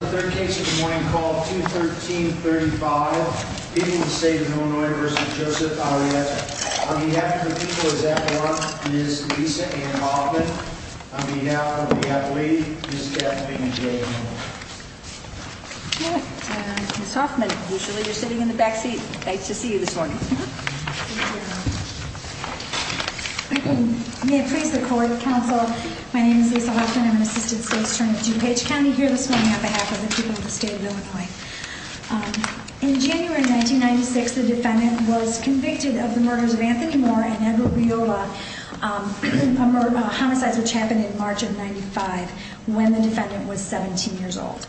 The third case of the morning called 21335, people in the state of Illinois v. Joseph Arrieta. On behalf of the people of that block, Ms. Lisa Ann Hoffman. On behalf of the athlete, Ms. Kathleen J. Miller. Ms. Hoffman, usually you're sitting in the back seat. Nice to see you this morning. Thank you. May it please the court, counsel. My name is Lisa Hoffman. I'm an assistant state attorney at DuPage County. Here this morning on behalf of the people of the state of Illinois. In January 1996, the defendant was convicted of the murders of Anthony Moore and Edward Viola. Homicides which happened in March of 95, when the defendant was 17 years old.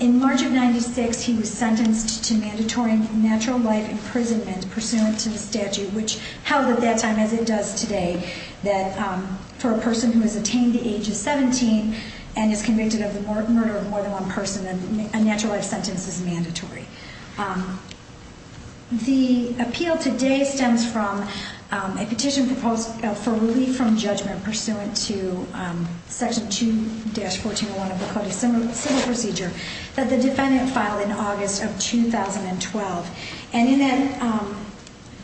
In March of 96, he was sentenced to mandatory natural life imprisonment pursuant to the statute. Which held at that time, as it does today, that for a person who has attained the age of 17 and is convicted of the murder of more than one person, a natural life sentence is mandatory. The appeal today stems from a petition proposed for relief from judgment pursuant to Section 2-1401 of the Code of Civil Procedure that the defendant filed in August of 2012. And in that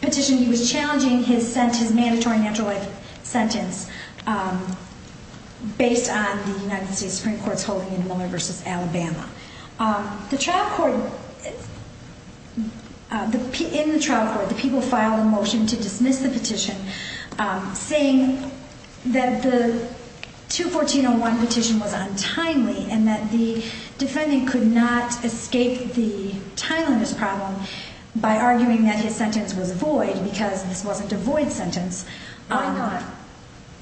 petition, he was challenging his mandatory natural life sentence based on the United States Supreme Court's holding in Wilmer v. Alabama. In the trial court, the people filed a motion to dismiss the petition saying that the 2-1401 petition was untimely and that the defendant could not escape the Thailanders' problem by arguing that his sentence was void because this wasn't a void sentence. Why not?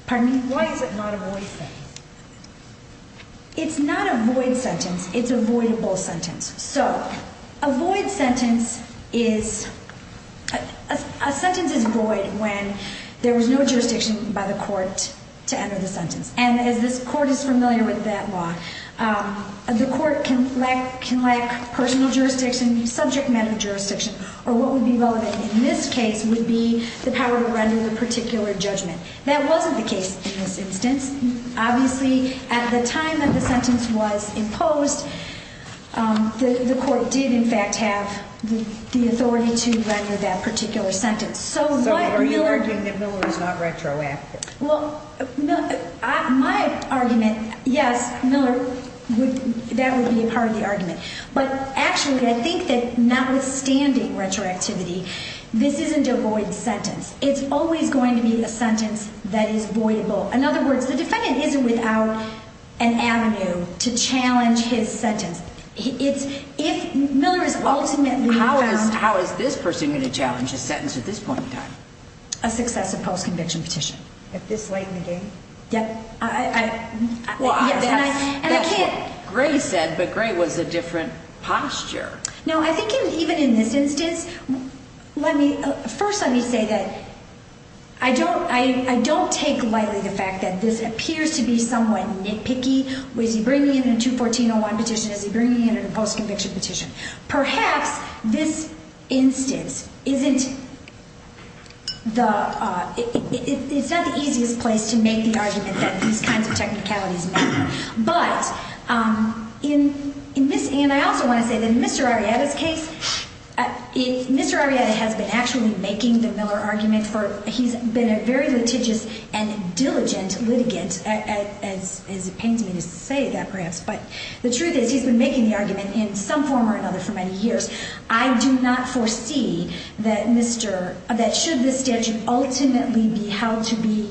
Pardon me? Why is it not a void sentence? It's not a void sentence. It's a voidable sentence. So, a void sentence is... A sentence is void when there was no jurisdiction by the court to enter the sentence. And as this court is familiar with that law, the court can lack personal jurisdiction, subject matter jurisdiction, or what would be relevant in this case would be the power to render the particular judgment. That wasn't the case in this instance. Obviously, at the time that the sentence was imposed, the court did, in fact, have the authority to render that particular sentence. So, are you arguing that Miller was not retroactive? Well, my argument, yes, Miller, that would be part of the argument. But actually, I think that notwithstanding retroactivity, this isn't a void sentence. It's always going to be a sentence that is voidable. In other words, the defendant isn't without an avenue to challenge his sentence. If Miller is ultimately found... How is this person going to challenge a sentence at this point in time? A successive post-conviction petition. At this late in the game? Yep. Well, that's what Gray said, but Gray was a different posture. Now, I think even in this instance, let me... First, let me say that I don't take lightly the fact that this appears to be somewhat nitpicky. Is he bringing in a 214-01 petition? Is he bringing in a post-conviction petition? Perhaps this instance isn't the... It's not the easiest place to make the argument that these kinds of technicalities matter. But in this... And I also want to say that in Mr. Arrieta's case, Mr. Arrieta has been actually making the Miller argument for... He's been a very litigious and diligent litigant, as it pains me to say that, perhaps. But the truth is, he's been making the argument in some form or another for many years. I do not foresee that Mr... That should this statute ultimately be held to be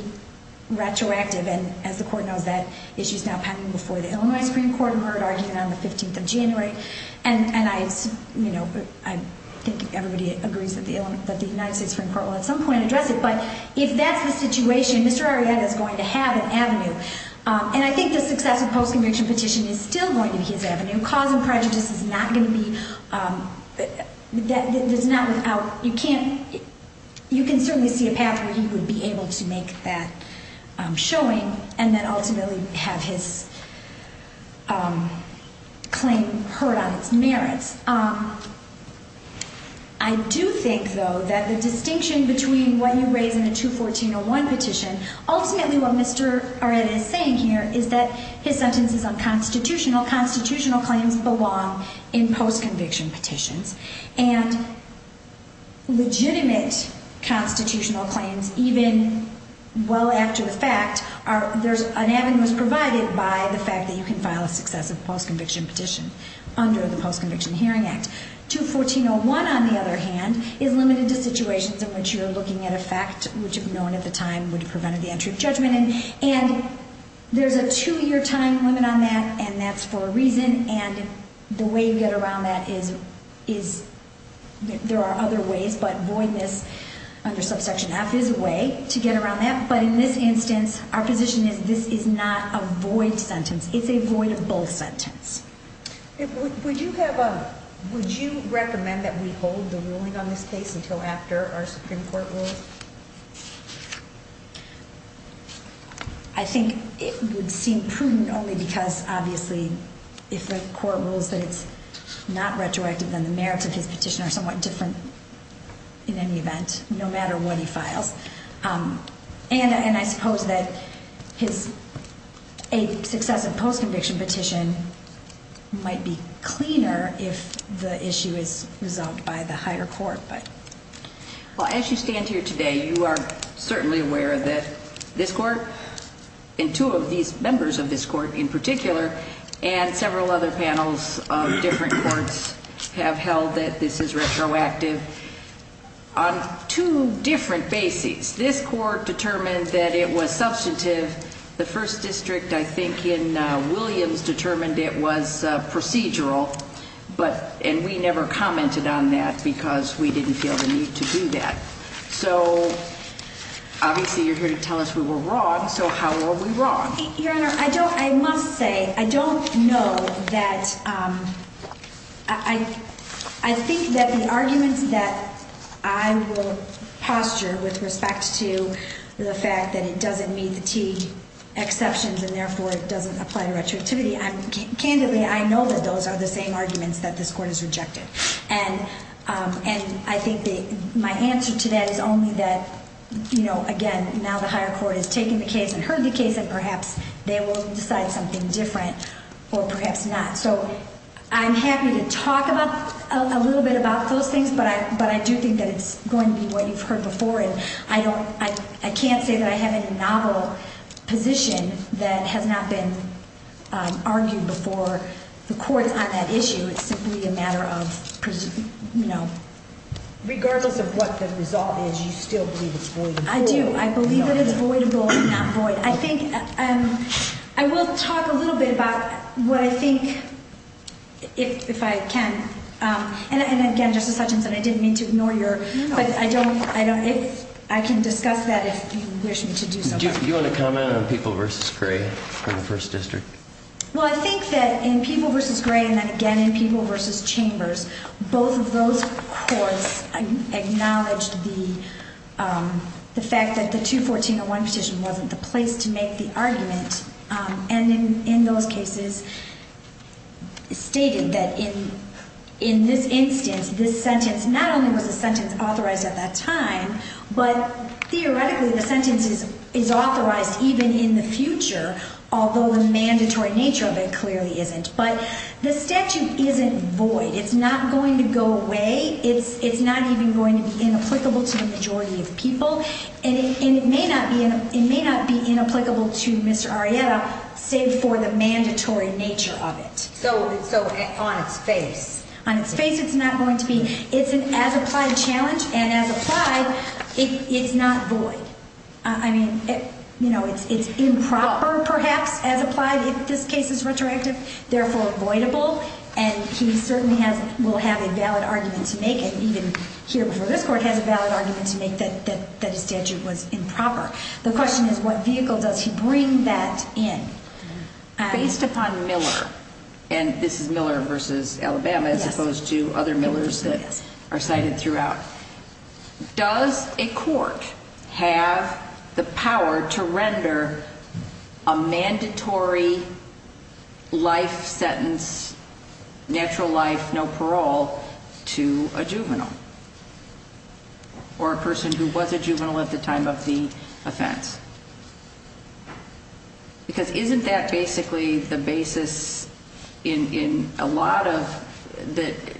retroactive, and as the Court knows, that issue is now pending before the Illinois Supreme Court, and we're at argument on the 15th of January, and I think everybody agrees that the United States Supreme Court will at some point address it, but if that's the situation, Mr. Arrieta is going to have an avenue. And I think the successive post-conviction petition is still going to be his avenue. Cause and prejudice is not going to be... There's not without... You can't... You can certainly see a path where he would be able to make that showing, and then ultimately have his claim heard on its merits. I do think, though, that the distinction between what you raise in the 214-01 petition, ultimately what Mr. Arrieta is saying here is that his sentence is unconstitutional. Constitutional claims belong in post-conviction petitions. And legitimate constitutional claims, even well after the fact, there's an avenue that's provided by the fact that you can file a successive post-conviction petition under the Post-Conviction Hearing Act. 214-01, on the other hand, is limited to situations in which you're looking at a fact which, if known at the time, would have prevented the entry of judgment. And there's a two-year time limit on that, and that's for a reason. And the way you get around that is... There are other ways, but voidness under Subsection F is a way to get around that. But in this instance, our position is this is not a void sentence. It's a void of both sentences. Would you recommend that we hold the ruling on this case until after our Supreme Court rules? I think it would seem prudent only because, obviously, if the court rules that it's not retroactive, then the merits of his petition are somewhat different in any event, no matter what he files. And I suppose that a successive post-conviction petition might be cleaner if the issue is resolved by the higher court. Well, as you stand here today, you are certainly aware that this court, and two of these members of this court in particular, and several other panels of different courts have held that this is retroactive on two different bases. This court determined that it was substantive. The First District, I think, in Williams determined it was procedural. And we never commented on that because we didn't feel the need to do that. So, obviously, you're here to tell us we were wrong. So how are we wrong? Your Honor, I must say, I don't know that... I think that the arguments that I will posture with respect to the fact that it doesn't meet the T exceptions and, therefore, it doesn't apply to retroactivity, candidly, I know that those are the same arguments that this court has rejected. And I think my answer to that is only that, again, now the higher court has taken the case and heard the case, and perhaps they will decide something different, or perhaps not. So I'm happy to talk a little bit about those things, but I do think that it's going to be what you've heard before. And I can't say that I have any novel position that has not been argued before the courts on that issue. It's simply a matter of, you know... Regardless of what the result is, you still believe it's voidable. I do. I believe that it's voidable and not void. I will talk a little bit about what I think, if I can... And, again, Justice Hutchinson, I didn't mean to ignore your... But I can discuss that if you wish me to do so. Do you want to comment on People v. Gray in the First District? Well, I think that in People v. Gray and, again, in People v. Chambers, both of those courts acknowledged the fact that the 214-01 petition wasn't the place to make the argument, and in those cases stated that in this instance, this sentence not only was a sentence authorized at that time, but theoretically the sentence is authorized even in the future, although the mandatory nature of it clearly isn't. But the statute isn't void. It's not going to go away. It's not even going to be inapplicable to the majority of people. And it may not be inapplicable to Mr. Arrieta, save for the mandatory nature of it. So on its face? On its face, it's not going to be. It's an as-applied challenge, and as-applied, it's not void. I mean, it's improper, perhaps, as-applied if this case is retroactive, therefore voidable, and he certainly will have a valid argument to make it, even here before this court has a valid argument to make that his statute was improper. The question is what vehicle does he bring that in? Based upon Miller, and this is Miller v. Alabama, as opposed to other Millers that are cited throughout, does a court have the power to render a mandatory life sentence, natural life, no parole, to a juvenile, or a person who was a juvenile at the time of the offense? Because isn't that basically the basis in a lot of the ñ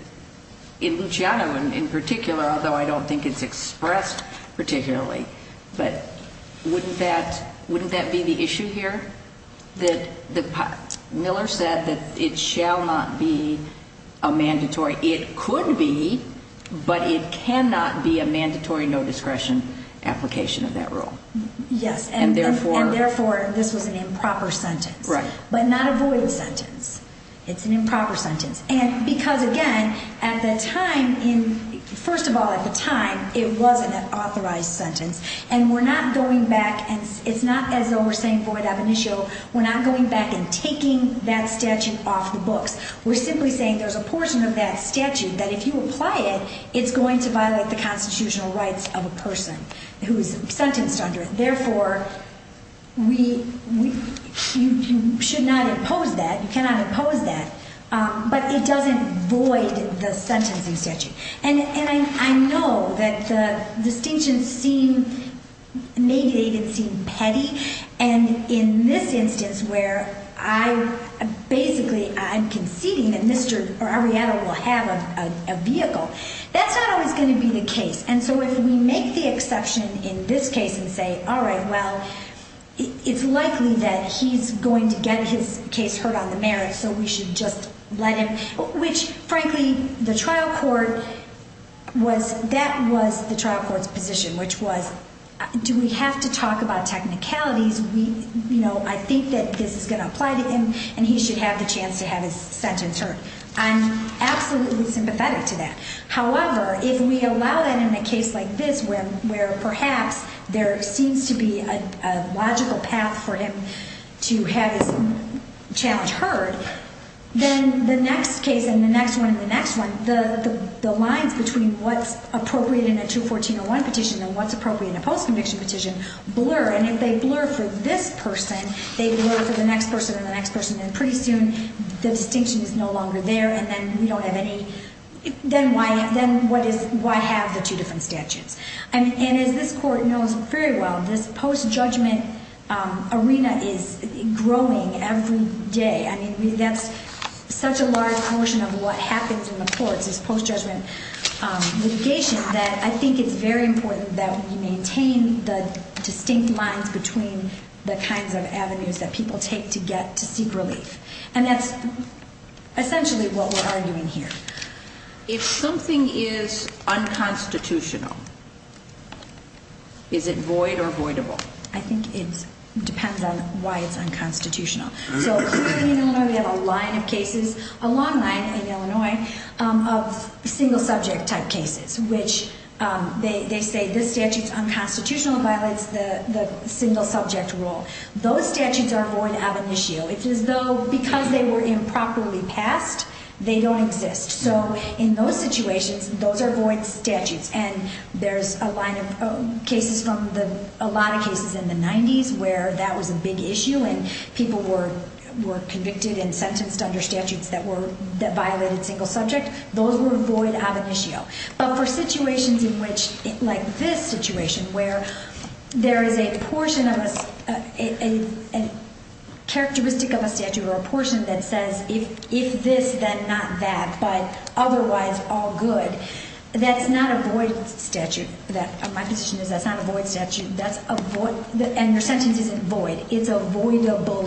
in Luciano in particular, although I don't think it's expressed particularly, but wouldn't that be the issue here? Miller said that it shall not be a mandatory. It could be, but it cannot be a mandatory no-discretion application of that rule. Yes, and therefore this was an improper sentence, but not a void sentence. It's an improper sentence, and because again, at the time, first of all, at the time, it was an authorized sentence, and we're not going back, and it's not as though we're saying void ab initio, we're not going back and taking that statute off the books. We're simply saying there's a portion of that statute that if you apply it, it's going to violate the constitutional rights of a person who is sentenced under it. Therefore, you should not impose that, you cannot impose that, but it doesn't void the sentencing statute. And I know that the distinctions seem, maybe they even seem petty, and in this instance where I basically, I'm conceding, that Mr. Arrieta will have a vehicle, that's not always going to be the case. And so if we make the exception in this case and say, all right, well, it's likely that he's going to get his case heard on the merits, so we should just let him, which frankly, the trial court was, that was the trial court's position, which was, do we have to talk about technicalities? I think that this is going to apply to him, and he should have the chance to have his sentence heard. I'm absolutely sympathetic to that. However, if we allow that in a case like this where perhaps there seems to be a logical path for him to have his challenge heard, then the next case and the next one and the next one, the lines between what's appropriate in a 214.01 petition and what's appropriate in a post-conviction petition blur, and if they blur for this person, they blur for the next person and the next person, and pretty soon the distinction is no longer there, and then we don't have any, then why have the two different statutes? And as this court knows very well, this post-judgment arena is growing every day. I mean, that's such a large portion of what happens in the courts is post-judgment litigation that I think it's very important that we maintain the distinct lines between the kinds of avenues that people take to get to seek relief, and that's essentially what we're arguing here. If something is unconstitutional, is it void or voidable? I think it depends on why it's unconstitutional. So here in Illinois, we have a line of cases, a long line in Illinois, of single-subject type cases, which they say this statute is unconstitutional and violates the single-subject rule. Those statutes are void of initio. It's as though because they were improperly passed, they don't exist. So in those situations, those are void statutes, and there's a line of cases from a lot of cases in the 90s where that was a big issue and people were convicted and sentenced under statutes that violated single-subject. Those were void of initio. But for situations like this situation where there is a characteristic of a statute or a portion that says if this, then not that, but otherwise all good, that's not a void statute. My position is that's not a void statute. That's a void, and your sentence isn't void. It's a voidable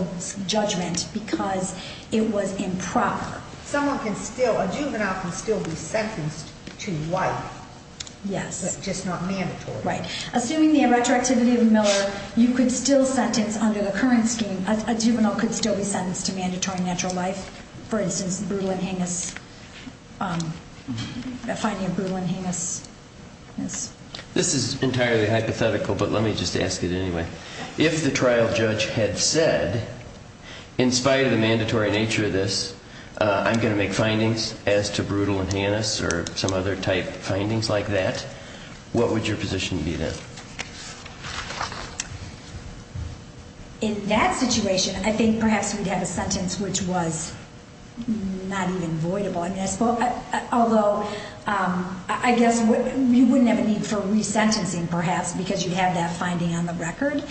judgment because it was improper. Someone can still, a juvenile can still be sentenced to life. Yes. But just not mandatory. Right. Assuming the retroactivity of Miller, you could still sentence under the current scheme, a juvenile could still be sentenced to mandatory natural life. For instance, brutal and heinous, finding a brutal and heinous. This is entirely hypothetical, but let me just ask it anyway. If the trial judge had said, in spite of the mandatory nature of this, I'm going to make findings as to brutal and heinous or some other type findings like that, what would your position be then? In that situation, I think perhaps we'd have a sentence which was not even voidable. Although, I guess you wouldn't have a need for resentencing, perhaps, because you'd have that finding on the record.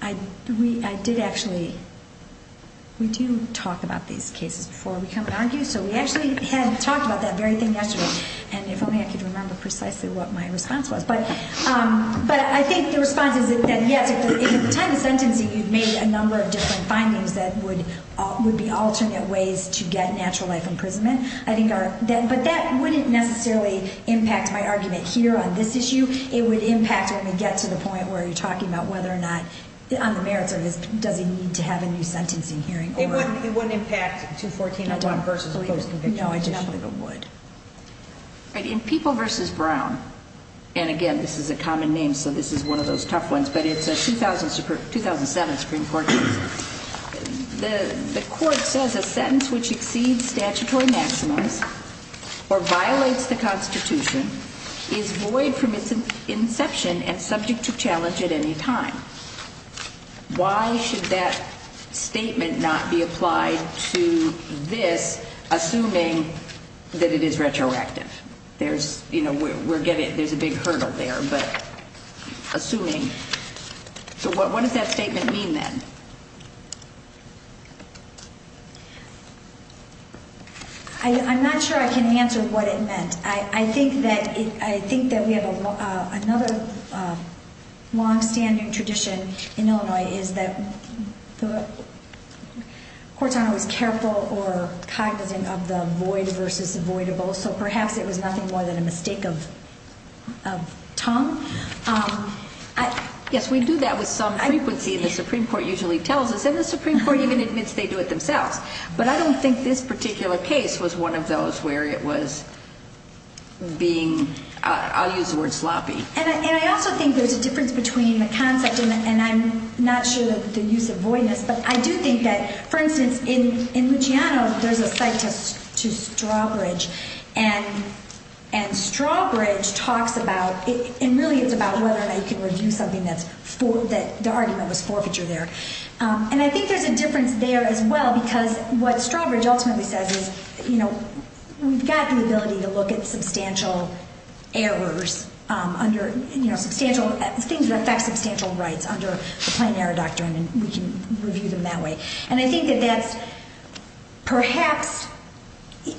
I did actually, we do talk about these cases before we come and argue, so we actually had talked about that very thing yesterday, and if only I could remember precisely what my response was. But I think the response is that, yes, if at the time of sentencing, you've made a number of different findings that would be alternate ways to get natural life imprisonment. But that wouldn't necessarily impact my argument here on this issue. It would impact when we get to the point where you're talking about whether or not, on the merits of this, does he need to have a new sentencing hearing. It wouldn't impact 214-1 versus a closed conviction? No, I just don't think it would. In People v. Brown, and again, this is a common name, so this is one of those tough ones, but it's a 2007 Supreme Court case. The court says a sentence which exceeds statutory maximums or violates the Constitution is void from its inception and subject to challenge at any time. Why should that statement not be applied to this, assuming that it is retroactive? There's a big hurdle there, but assuming. So what does that statement mean then? I'm not sure I can answer what it meant. I think that we have another long-standing tradition in Illinois is that Cortana was careful or cognizant of the void versus avoidable, so perhaps it was nothing more than a mistake of tongue. Yes, we do that with some frequency, and the Supreme Court usually tells us, and the Supreme Court even admits they do it themselves. But I don't think this particular case was one of those where it was being, I'll use the word sloppy. And I also think there's a difference between the concept, and I'm not sure of the use of voidness, but I do think that, for instance, in Luciano, there's a cite to Strawbridge, and Strawbridge talks about, and really it's about whether or not you can review something that's, the argument was forfeiture there. And I think there's a difference there as well, because what Strawbridge ultimately says is, you know, we've got the ability to look at substantial errors under, you know, And I think that that's perhaps,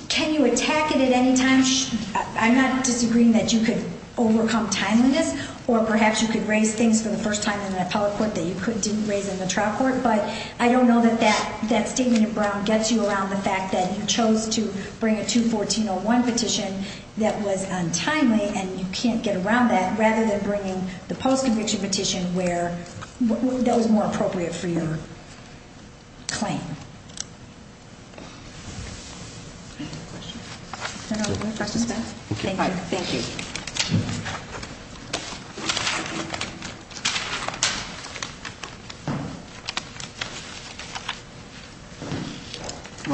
can you attack it at any time? I'm not disagreeing that you could overcome timeliness, or perhaps you could raise things for the first time in an appellate court that you didn't raise in the trial court, but I don't know that that statement in Brown gets you around the fact that you chose to bring a 214.01 petition that was untimely, and you can't get around that, rather than bringing the post-conviction petition where that was more appropriate for your claim. Any questions? No, no, questions? Thank you. Thank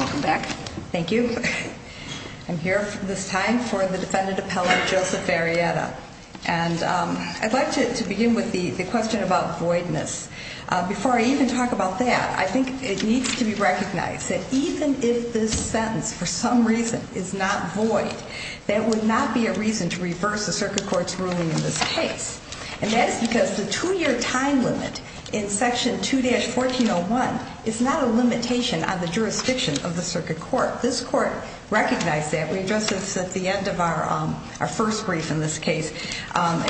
you. Welcome back. Thank you. I'm here this time for the defendant appellate, Joseph Varietta. And I'd like to begin with the question about voidness. Before I even talk about that, I think it needs to be recognized that even if this sentence, for some reason, is not void, that would not be a reason to reverse the circuit court's ruling in this case. And that's because the two-year time limit in Section 2-1401 is not a limitation on the jurisdiction of the circuit court. This court recognized that. We addressed this at the end of our first brief in this case.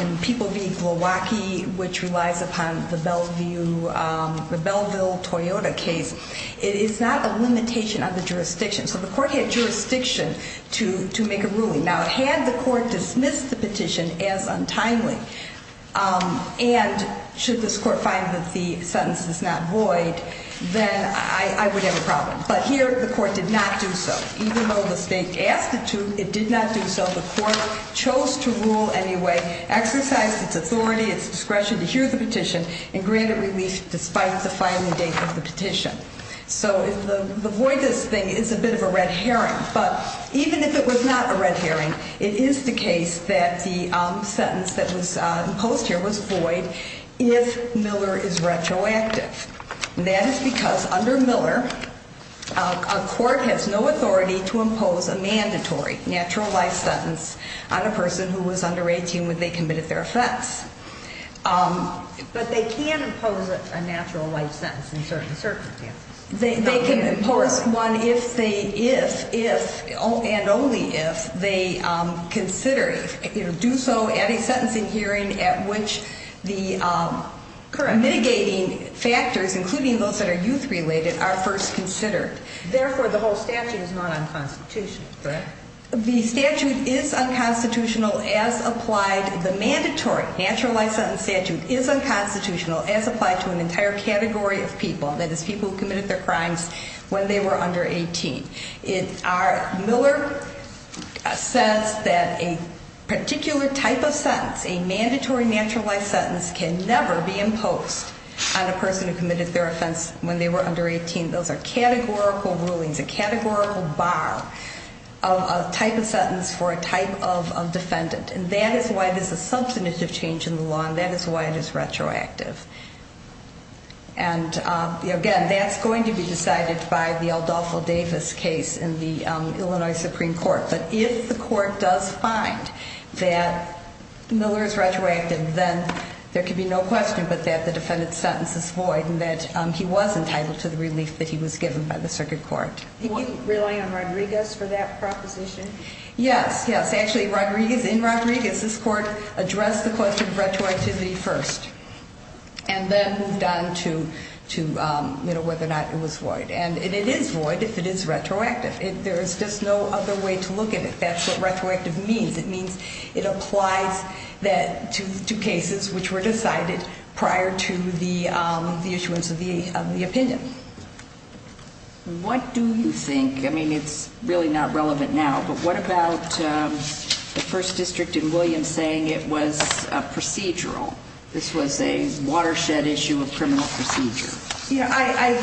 In People v. Glowacki, which relies upon the Belleville-Toyota case, it is not a limitation on the jurisdiction. So the court had jurisdiction to make a ruling. Now, had the court dismissed the petition as untimely, and should this court find that the sentence is not void, then I would have a problem. But here, the court did not do so. Even though the state asked it to, it did not do so. The court chose to rule anyway, exercised its authority, its discretion to hear the petition, and granted relief despite the filing date of the petition. So the voidness thing is a bit of a red herring. But even if it was not a red herring, it is the case that the sentence that was imposed here was void if Miller is retroactive. And that is because under Miller, a court has no authority to impose a mandatory natural life sentence on a person who was under 18 when they committed their offense. But they can impose a natural life sentence in certain circumstances. They can impose one if and only if they do so at a sentencing hearing at which the mitigating factors, including those that are youth-related, are first considered. Therefore, the whole statute is not unconstitutional. Correct. The statute is unconstitutional as applied. The mandatory natural life sentence statute is unconstitutional as applied to an entire category of people, that is, people who committed their crimes when they were under 18. Miller says that a particular type of sentence, a mandatory natural life sentence, can never be imposed on a person who committed their offense when they were under 18. Those are categorical rulings, a categorical bar of a type of sentence for a type of defendant. And that is why there's a substantive change in the law, and that is why it is retroactive. And, again, that's going to be decided by the Aldolfo Davis case in the Illinois Supreme Court. But if the court does find that Miller is retroactive, then there can be no question but that the defendant's sentence is void and that he was entitled to the relief that he was given by the circuit court. Are you relying on Rodriguez for that proposition? Yes, yes. Actually, Rodriguez, in Rodriguez, this court addressed the question of retroactivity first. And then moved on to, you know, whether or not it was void. And it is void if it is retroactive. There is just no other way to look at it. That's what retroactive means. It means it applies to cases which were decided prior to the issuance of the opinion. What do you think, I mean, it's really not relevant now, but what about the First District in Williams saying it was procedural? This was a watershed issue of criminal procedure. You know,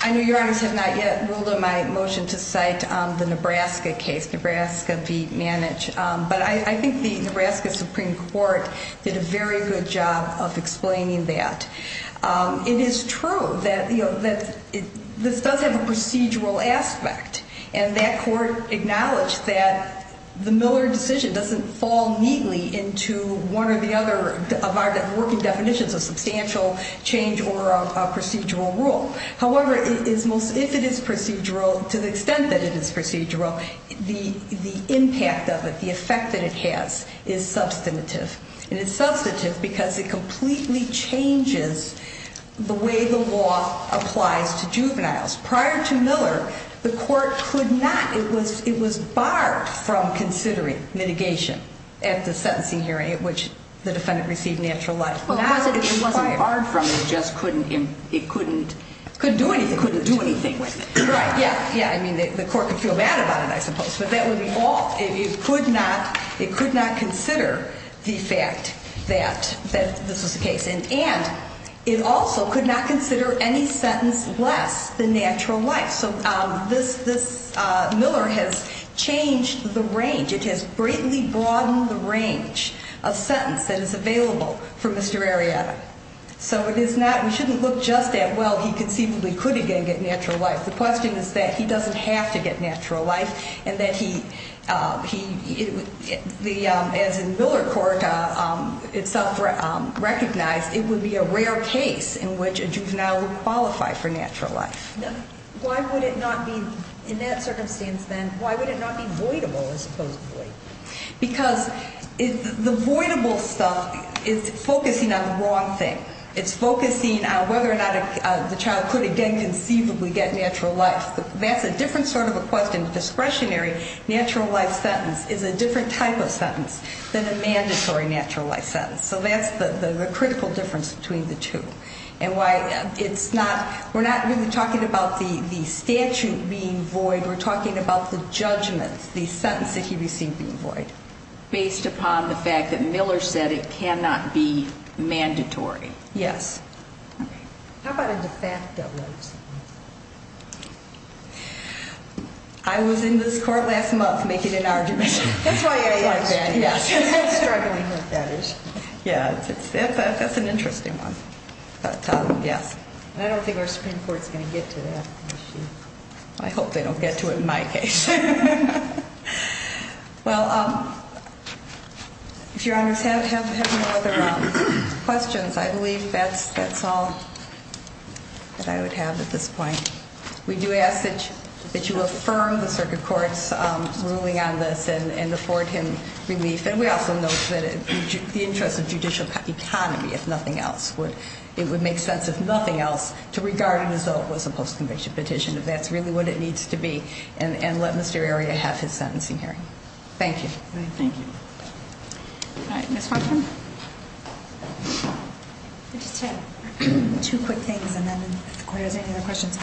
I know your Honors have not yet ruled on my motion to cite the Nebraska case, Nebraska v. Manage. But I think the Nebraska Supreme Court did a very good job of explaining that. It is true that this does have a procedural aspect. And that court acknowledged that the Miller decision doesn't fall neatly into one or the other of our working definitions of substantial change or a procedural rule. However, if it is procedural, to the extent that it is procedural, the impact of it, the effect that it has, is substantive. And it's substantive because it completely changes the way the law applies to juveniles. Prior to Miller, the court could not, it was barred from considering mitigation at the sentencing hearing at which the defendant received natural life. It wasn't barred from it, it just couldn't do anything with it. Yeah, I mean, the court could feel bad about it, I suppose. But that would be all. It could not consider the fact that this was the case. And it also could not consider any sentence less than natural life. So this Miller has changed the range. It has greatly broadened the range of sentence that is available for Mr. Arrieta. So it is not, we shouldn't look just at, well, he conceivably could again get natural life. The question is that he doesn't have to get natural life and that he, as in Miller court itself recognized, it would be a rare case in which a juvenile would qualify for natural life. Why would it not be, in that circumstance then, why would it not be voidable as opposed to void? Because the voidable stuff is focusing on the wrong thing. It's focusing on whether or not the child could again conceivably get natural life. That's a different sort of a question. Natural life sentence is a different type of sentence than a mandatory natural life sentence. So that's the critical difference between the two. And why it's not, we're not really talking about the statute being void. We're talking about the judgment, the sentence that he received being void. Based upon the fact that Miller said it cannot be mandatory. Yes. How about a de facto? I was in this court last month making an argument. That's why I like that. Struggling with that issue. Yeah, that's an interesting one. I don't think our Supreme Court is going to get to that. I hope they don't get to it in my case. Well, if your honors have no other questions, I believe that's all that I would have at this point. We do ask that you affirm the circuit court's ruling on this and afford him relief. And we also note the interest of judicial economy, if nothing else. It would make sense, if nothing else, to regard it as though it was a post-conviction petition, if that's really what it needs to be. And let Mr. Arria have his sentencing hearing. Thank you. Thank you. All right. Ms. Hartman? Just two quick things, and then if the court has any other questions.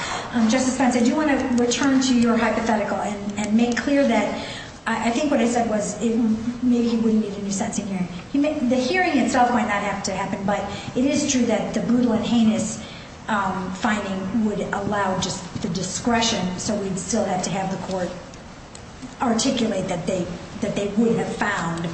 Justice Spence, I do want to return to your hypothetical and make clear that I think what I said was maybe he wouldn't need a new sentencing hearing. The hearing itself might not have to happen, but it is true that the brutal and heinous finding would allow just the discretion, so we'd still have to have the court articulate that they would have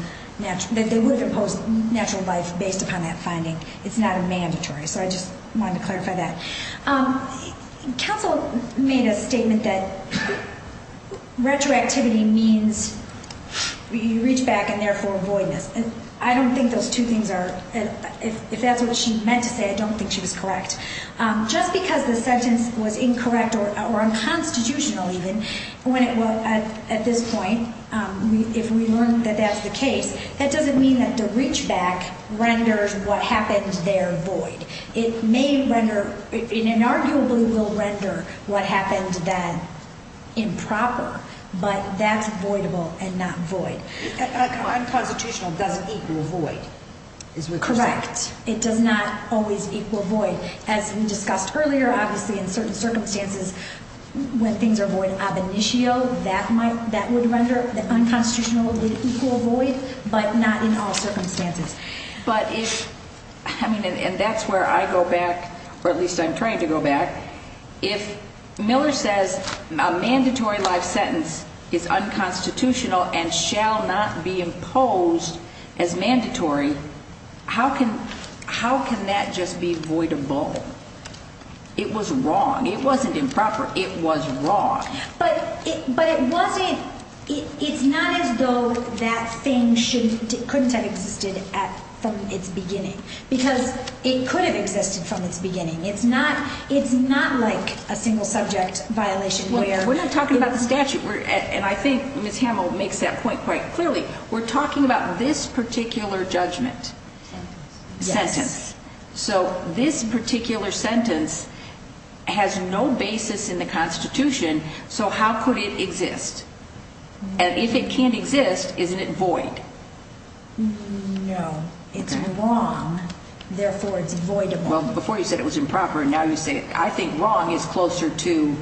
imposed natural life based upon that finding. It's not a mandatory, so I just wanted to clarify that. Counsel made a statement that retroactivity means you reach back and therefore avoid this. I don't think those two things are, if that's what she meant to say, I don't think she was correct. Just because the sentence was incorrect or unconstitutional, even, at this point, if we learn that that's the case, that doesn't mean that the reach back renders what happened there void. It may render, it inarguably will render what happened then improper, but that's voidable and not void. Unconstitutional doesn't equal void. Correct. It does not always equal void. As we discussed earlier, obviously in certain circumstances, when things are void ab initio, that would render, unconstitutional would equal void, but not in all circumstances. And that's where I go back, or at least I'm trying to go back. If Miller says a mandatory life sentence is unconstitutional and shall not be imposed as mandatory, how can that just be voidable? It was wrong. It wasn't improper. It was wrong. But it wasn't, it's not as though that thing couldn't have existed from its beginning, because it could have existed from its beginning. It's not like a single subject violation where... We're not talking about the statute, and I think Ms. Hamill makes that point quite clearly. We're talking about this particular judgment. Sentence. Sentence. So this particular sentence has no basis in the Constitution, so how could it exist? And if it can't exist, isn't it void? No. It's wrong, therefore it's voidable. Well, before you said it was improper, and now you say it. I think wrong is closer to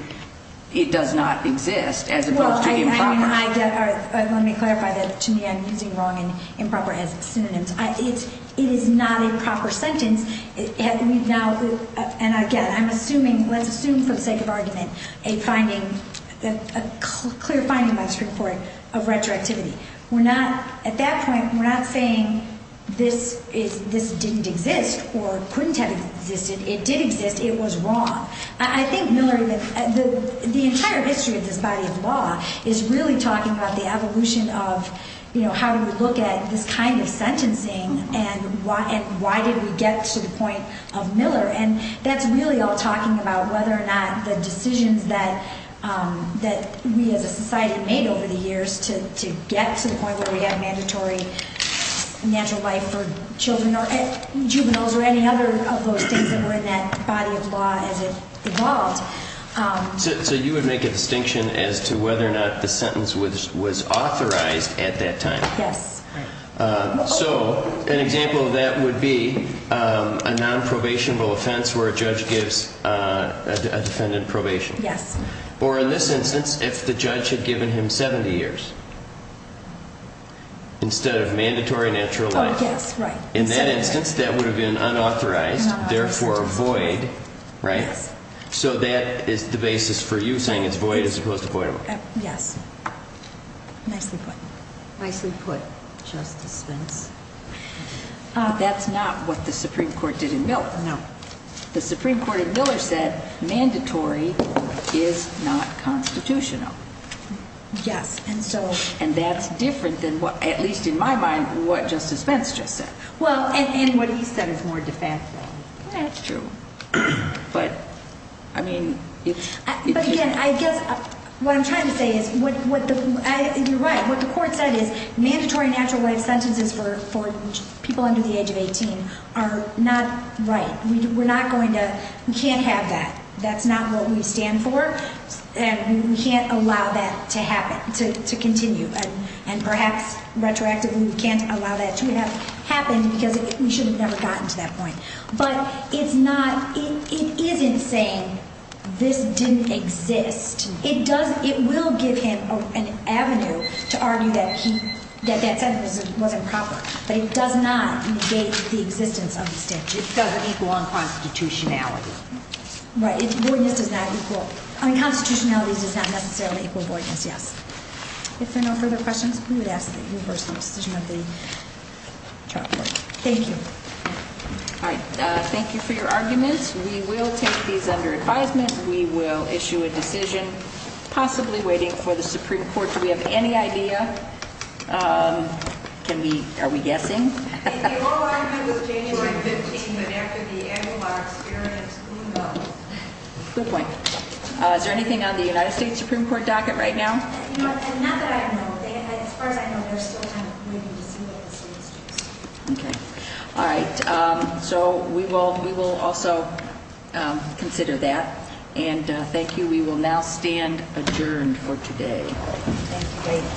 it does not exist as opposed to improper. Let me clarify that. To me, I'm using wrong and improper as synonyms. It is not a proper sentence. And, again, I'm assuming, let's assume for the sake of argument, a finding, a clear finding by the Supreme Court of retroactivity. We're not, at that point, we're not saying this didn't exist or couldn't have existed. It did exist. It was wrong. I think, Miller, the entire history of this body of law is really talking about the evolution of how we look at this kind of sentencing and why did we get to the point of Miller, and that's really all talking about whether or not the decisions that we as a society made over the years to get to the point where we had mandatory natural life for children or juveniles or any other of those things that were in that body of law as it evolved. So you would make a distinction as to whether or not the sentence was authorized at that time. Yes. So an example of that would be a nonprobationable offense where a judge gives a defendant probation. Yes. Or, in this instance, if the judge had given him 70 years instead of mandatory natural life. Oh, yes, right. In that instance, that would have been unauthorized, therefore void, right? Yes. So that is the basis for you saying it's void as opposed to voidable. Yes. Nicely put. Nicely put, Justice Spence. That's not what the Supreme Court did in Miller. No. The Supreme Court in Miller said mandatory is not constitutional. Yes. And that's different than, at least in my mind, what Justice Spence just said. Well, and what he said is more defensible. That's true. But, I mean, it's... But, again, I guess what I'm trying to say is, you're right, what the Court said is mandatory natural life sentences for people under the age of 18 are not right. We're not going to... We can't have that. That's not what we stand for. And we can't allow that to happen, to continue. And, perhaps, retroactively, we can't allow that to have happened because we should have never gotten to that point. But it's not... It isn't saying this didn't exist. It does... It will give him an avenue to argue that he... That that sentence wasn't proper. But it does not negate the existence of the statute. It doesn't equal unconstitutionality. Right. Unconstitutionality does not necessarily equal voidness, yes. If there are no further questions, we would ask that you reverse the decision of the trial court. Thank you. All right. Thank you for your arguments. We will take these under advisement. We will issue a decision, possibly waiting for the Supreme Court. Do we have any idea? Can we... Are we guessing? If the oral argument was January 15th, but after the annular experience, who knows? Good point. Is there anything on the United States Supreme Court docket right now? Not that I know of. As far as I know, there's still time, maybe, to see what the state has chosen. Okay. All right. So we will also consider that. And thank you. We will now stand adjourned for today. Thank you. Thank you.